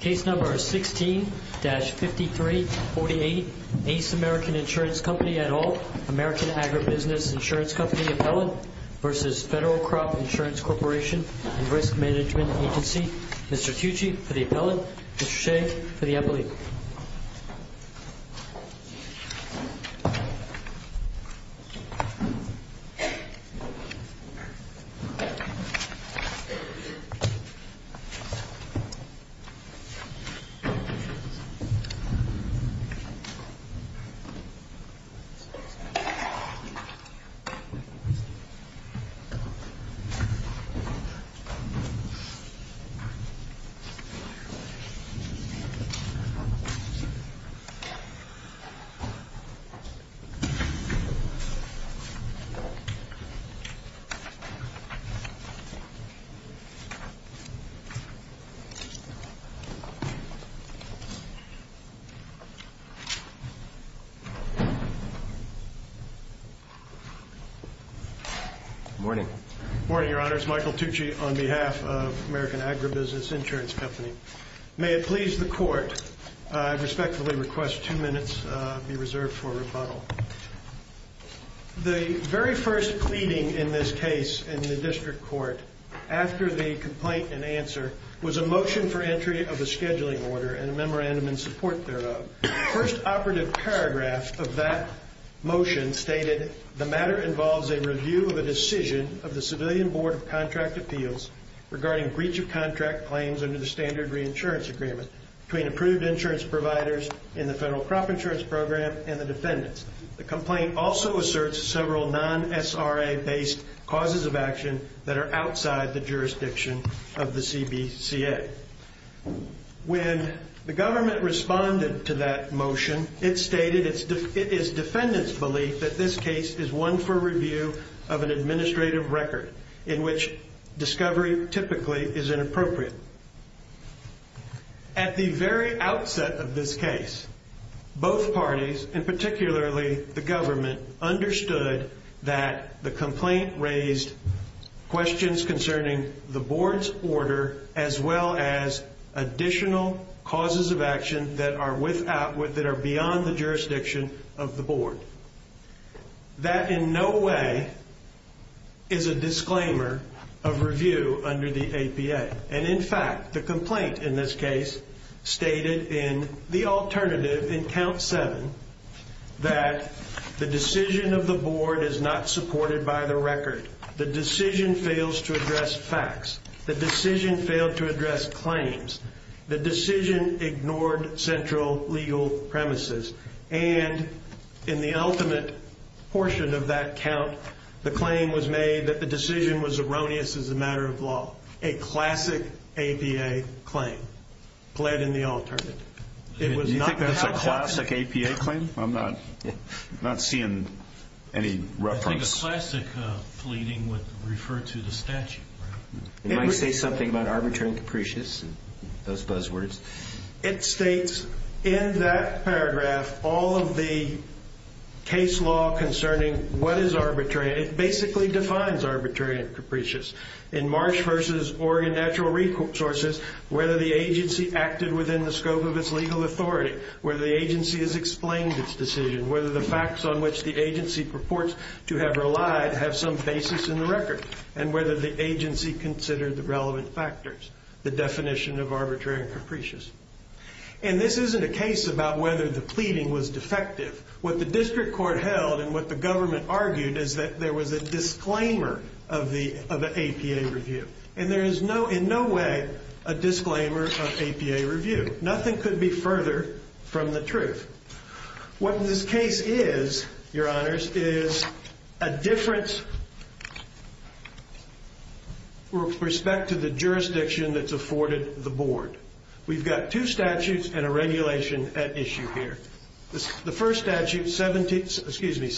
Case number is 16-5348, Ace American Insurance Company et al., American Agribusiness Insurance Company appellate v. Federal Crop Insurance Corporation and Risk Management Agency. Mr. Tucci for the appellate, Mr. Shea for the appellate. Thank you, Mr. Shea. Good morning. Good morning, Your Honors. Michael Tucci on behalf of American Agribusiness Insurance Company. May it please the Court, I respectfully request two minutes be reserved for rebuttal. The very first pleading in this case in the District Court after the complaint and answer was a motion for entry of a scheduling order and a memorandum in support thereof. The first operative paragraph of that motion stated, the matter involves a review of a decision of the Civilian Board of Contract Appeals regarding breach of contract claims under the Standard Reinsurance Agreement between approved insurance providers in the Federal Crop Insurance Program and the defendants. The complaint also asserts several non-SRA-based causes of action that are outside the jurisdiction of the CBCA. When the government responded to that motion, it stated it is defendants' belief that this case is one for review of an administrative record in which discovery typically is inappropriate. At the very outset of this case, both parties, and particularly the government, understood that the complaint raised questions concerning the Board's order as well as additional causes of action that are beyond the jurisdiction of the Board. That in no way is a disclaimer of review under the APA. And in fact, the complaint in this case stated in the alternative in Count 7 that the decision of the Board is not supported by the record. The decision fails to address facts. The decision failed to address claims. The decision ignored central legal premises. And in the ultimate portion of that count, the claim was made that the decision was erroneous as a matter of law. A classic APA claim pled in the alternative. Do you think that's a classic APA claim? I'm not seeing any reference. I think a classic pleading would refer to the statute. It might say something about arbitrary and capricious, those buzzwords. It states in that paragraph all of the case law concerning what is arbitrary. It basically defines arbitrary and capricious. In Marsh v. Oregon Natural Resources, whether the agency acted within the scope of its legal authority, whether the agency has explained its decision, whether the facts on which the agency purports to have relied have some basis in the record, and whether the agency considered the relevant factors, the definition of arbitrary and capricious. And this isn't a case about whether the pleading was defective. What the district court held and what the government argued is that there was a disclaimer of the APA review. And there is in no way a disclaimer of APA review. Nothing could be further from the truth. What this case is, Your Honors, is a difference with respect to the jurisdiction that's afforded the board. We've got two statutes and a regulation at issue here. The first statute, 7 U.S.C.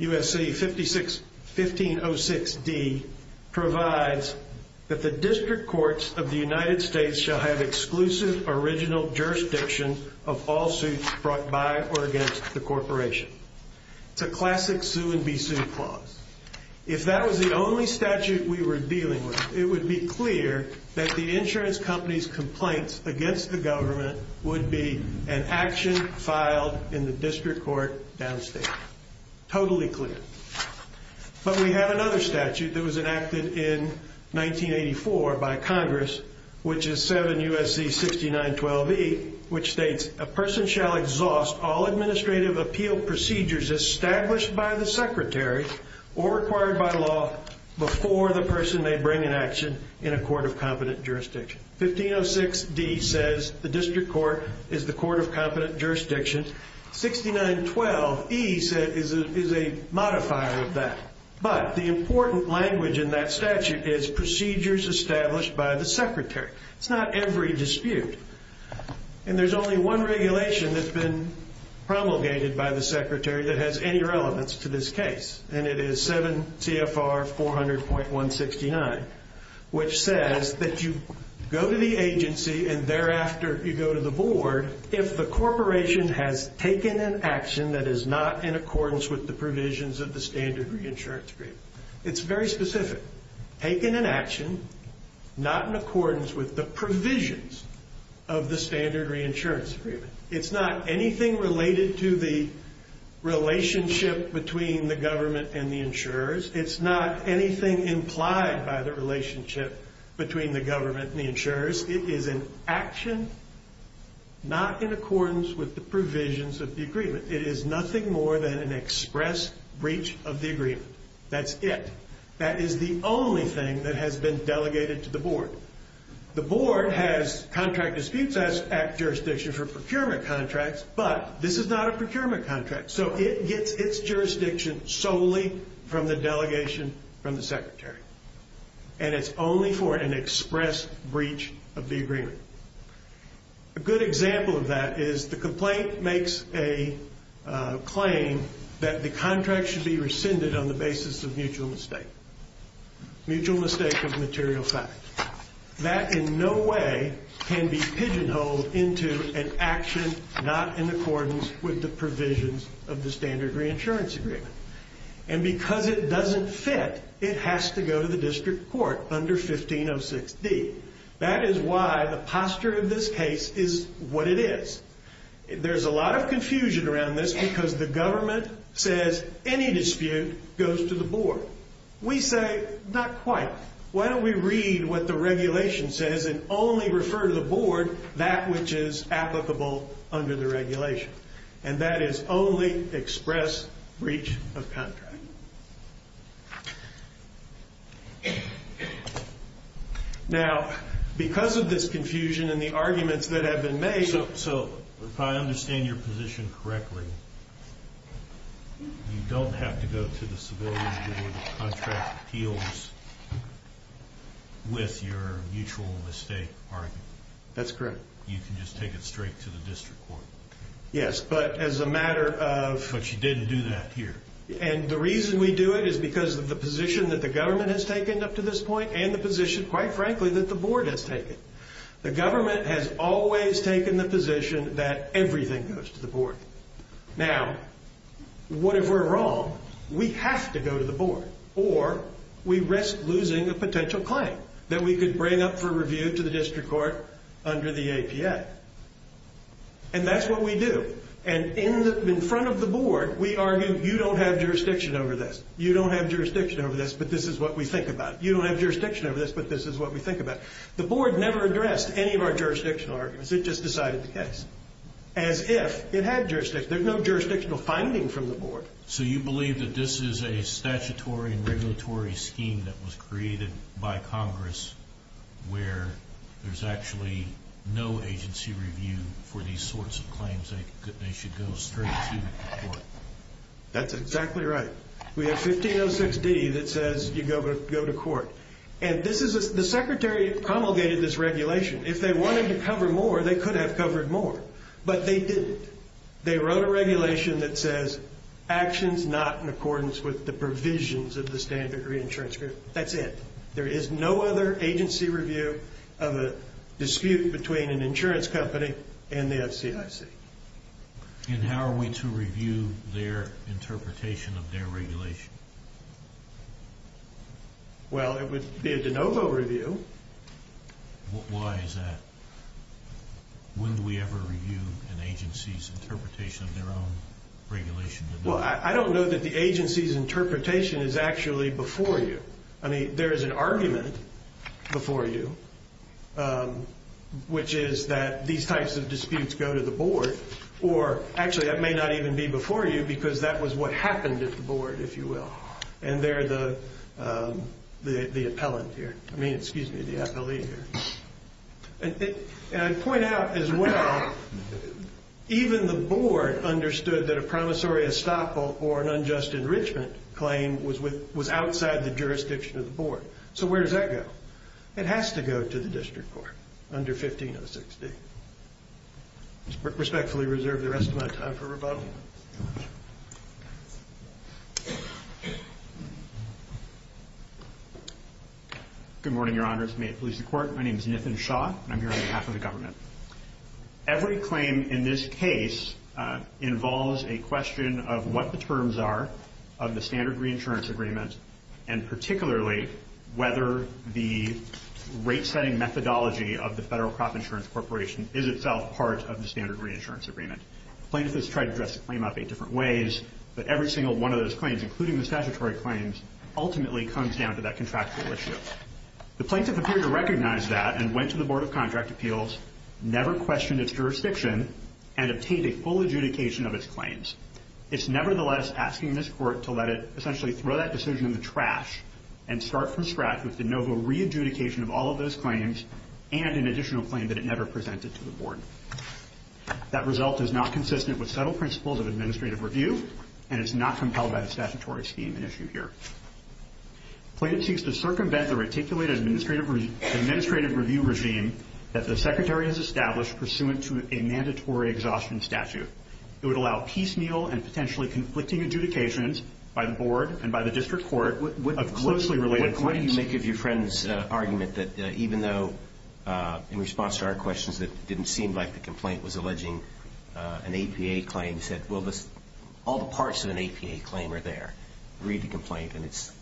1506D, provides that the district courts of the United States shall have exclusive original jurisdiction of all suits brought by or against the corporation. It's a classic sue and be sued clause. If that was the only statute we were dealing with, it would be clear that the insurance company's complaints against the government would be an action filed in the district court downstate. Totally clear. But we have another statute that was enacted in 1984 by Congress, which is 7 U.S.C. 6912E, which states a person shall exhaust all administrative appeal procedures established by the secretary or required by law before the person may bring an action in a court of competent jurisdiction. 1506D says the district court is the court of competent jurisdiction. 6912E is a modifier of that. But the important language in that statute is procedures established by the secretary. It's not every dispute. And there's only one regulation that's been promulgated by the secretary that has any relevance to this case, and it is 7 CFR 400.169, which says that you go to the agency and thereafter you go to the board if the corporation has taken an action that is not in accordance with the provisions of the standard reinsurance agreement. It's very specific. Taken an action not in accordance with the provisions of the standard reinsurance agreement. It's not anything related to the relationship between the government and the insurers. It's not anything implied by the relationship between the government and the insurers. It is an action not in accordance with the provisions of the agreement. It is nothing more than an express breach of the agreement. That's it. That is the only thing that has been delegated to the board. The board has contract disputes jurisdiction for procurement contracts, but this is not a procurement contract, so it gets its jurisdiction solely from the delegation from the secretary, and it's only for an express breach of the agreement. A good example of that is the complaint makes a claim that the contract should be rescinded on the basis of mutual mistake. Mutual mistake of material fact. That in no way can be pigeonholed into an action not in accordance with the provisions of the standard reinsurance agreement. And because it doesn't fit, it has to go to the district court under 1506D. That is why the posture of this case is what it is. There's a lot of confusion around this because the government says any dispute goes to the board. We say not quite. Why don't we read what the regulation says and only refer to the board that which is applicable under the regulation, and that is only express breach of contract. Now, because of this confusion and the arguments that have been made, so if I understand your position correctly, you don't have to go to the civilian board of contract appeals with your mutual mistake argument. That's correct. You can just take it straight to the district court. Yes, but as a matter of... But you didn't do that here. And the reason we do it is because of the position that the government has taken up to this point and the position, quite frankly, that the board has taken. The government has always taken the position that everything goes to the board. Now, what if we're wrong? We have to go to the board, or we risk losing a potential claim that we could bring up for review to the district court under the APA. And that's what we do. And in front of the board, we argue, you don't have jurisdiction over this. You don't have jurisdiction over this, but this is what we think about. You don't have jurisdiction over this, but this is what we think about. The board never addressed any of our jurisdictional arguments. It just decided the case as if it had jurisdiction. There's no jurisdictional finding from the board. So you believe that this is a statutory and regulatory scheme that was created by Congress where there's actually no agency review for these sorts of claims that they should go straight to the court? That's exactly right. We have 1506D that says you go to court. And the secretary promulgated this regulation. If they wanted to cover more, they could have covered more, but they didn't. They wrote a regulation that says actions not in accordance with the provisions of the standard reinsurance agreement. That's it. There is no other agency review of a dispute between an insurance company and the FCIC. And how are we to review their interpretation of their regulation? Well, it would be a de novo review. Why is that? When do we ever review an agency's interpretation of their own regulation? Well, I don't know that the agency's interpretation is actually before you. I mean, there is an argument before you, which is that these types of disputes go to the board. Or actually, that may not even be before you because that was what happened at the board, if you will. And they're the appellant here. I mean, excuse me, the appellee here. And I'd point out as well, even the board understood that a promissory estoppel or an unjust enrichment claim was outside the jurisdiction of the board. So where does that go? It has to go to the district court under 1506D. I respectfully reserve the rest of my time for rebuttal. Good morning, Your Honors. May it please the Court. My name is Nithin Shah, and I'm here on behalf of the government. Every claim in this case involves a question of what the terms are of the standard reinsurance agreement, and particularly whether the rate-setting methodology of the Federal Crop Insurance Corporation is itself part of the standard reinsurance agreement. Plaintiffs have tried to dress the claim up eight different ways, but every single one of those claims, including the statutory claims, ultimately comes down to that contractual issue. The plaintiff appeared to recognize that and went to the Board of Contract Appeals, never questioned its jurisdiction, and obtained a full adjudication of its claims. It's nevertheless asking this court to let it essentially throw that decision in the trash and start from scratch with de novo re-adjudication of all of those claims and an additional claim that it never presented to the board. That result is not consistent with subtle principles of administrative review, and it's not compelled by the statutory scheme at issue here. The plaintiff seeks to circumvent the reticulated administrative review regime that the secretary has established pursuant to a mandatory exhaustion statute. It would allow piecemeal and potentially conflicting adjudications by the board and by the district court of closely related claims. Why don't you make of your friend's argument that even though in response to our questions it didn't seem like the complaint was alleging an APA claim, he said, well, all the parts of an APA claim are there. Read the complaint, and it's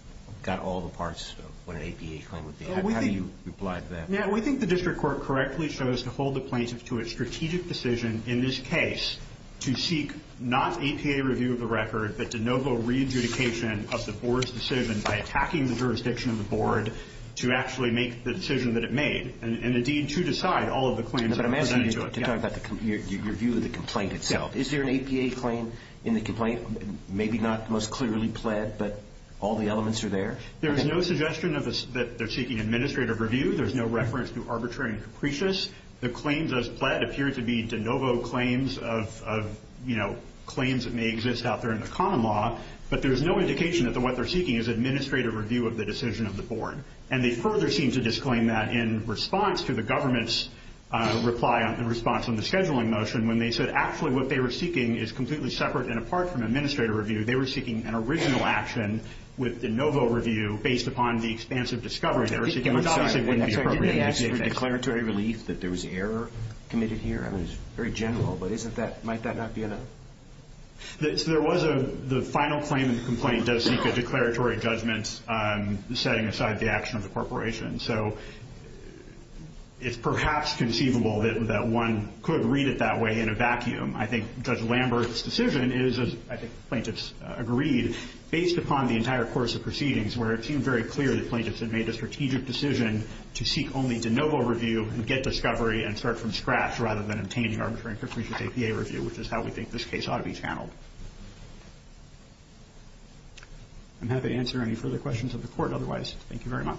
got all the parts of what an APA claim would be. How do you reply to that? We think the district court correctly chose to hold the plaintiff to a strategic decision in this case to seek not APA review of the record, but de novo re-adjudication of the board's decision by attacking the jurisdiction of the board to actually make the decision that it made and indeed to decide all of the claims that are presented to it. But I'm asking you to talk about your view of the complaint itself. Is there an APA claim in the complaint? Maybe not most clearly pled, but all the elements are there? There's no suggestion that they're seeking administrative review. There's no reference to arbitrary and capricious. The claims as pled appear to be de novo claims of claims that may exist out there in the common law, but there's no indication that what they're seeking is administrative review of the decision of the board. And they further seem to disclaim that in response to the government's reply in response to the scheduling motion when they said actually what they were seeking is completely separate and apart from administrative review, they were seeking an original action with de novo review based upon the expansive discovery. I'm sorry. Didn't they ask for declaratory relief that there was error committed here? I mean, it's very general, but might that not be enough? There was a final claim in the complaint does seek a declaratory judgment setting aside the action of the corporation. So it's perhaps conceivable that one could read it that way in a vacuum. I think Judge Lambert's decision is, as I think the plaintiffs agreed, based upon the entire course of proceedings where it seemed very clear that plaintiffs had made a strategic decision to seek only de novo review and get discovery and start from scratch rather than obtaining arbitrary and capricious APA review, which is how we think this case ought to be channeled. I'm happy to answer any further questions of the court otherwise. Thank you very much.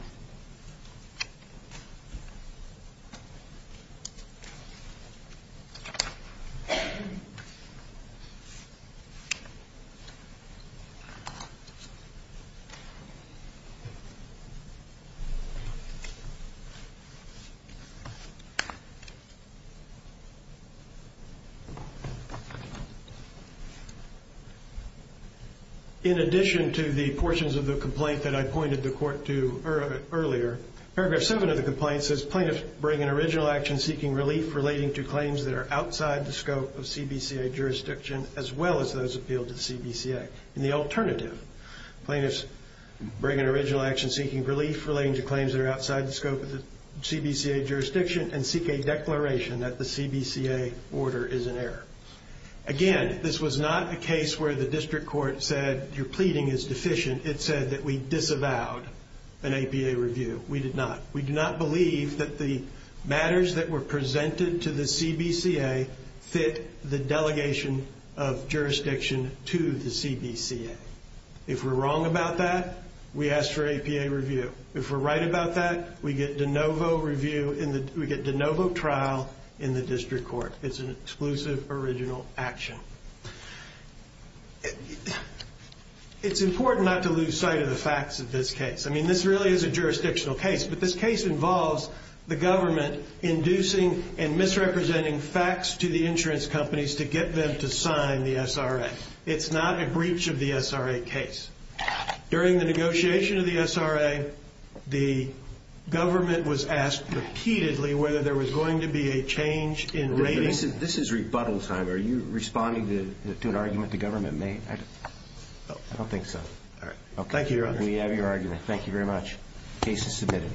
Thank you. In addition to the portions of the complaint that I pointed the court to earlier, paragraph 7 of the complaint says plaintiffs bring an original action seeking relief relating to claims that are outside the scope of CBCA jurisdiction as well as those appealed to CBCA. In the alternative, plaintiffs bring an original action seeking relief relating to claims that are outside the scope of the CBCA jurisdiction and seek a declaration that the CBCA order is in error. Again, this was not a case where the district court said your pleading is deficient. It said that we disavowed an APA review. We did not. We did not believe that the matters that were presented to the CBCA fit the delegation of jurisdiction to the CBCA. If we're wrong about that, we ask for APA review. If we're right about that, we get de novo review in the... we get de novo trial in the district court. It's an exclusive original action. It's important not to lose sight of the facts of this case. I mean, this really is a jurisdictional case, but this case involves the government inducing and misrepresenting facts to the insurance companies to get them to sign the SRA. It's not a breach of the SRA case. During the negotiation of the SRA, the government was asked repeatedly whether there was going to be a change in rating... This is rebuttal time. Are you responding to an argument the government made? I don't think so. Thank you, Your Honor. We have your argument. Thank you very much. Case is submitted.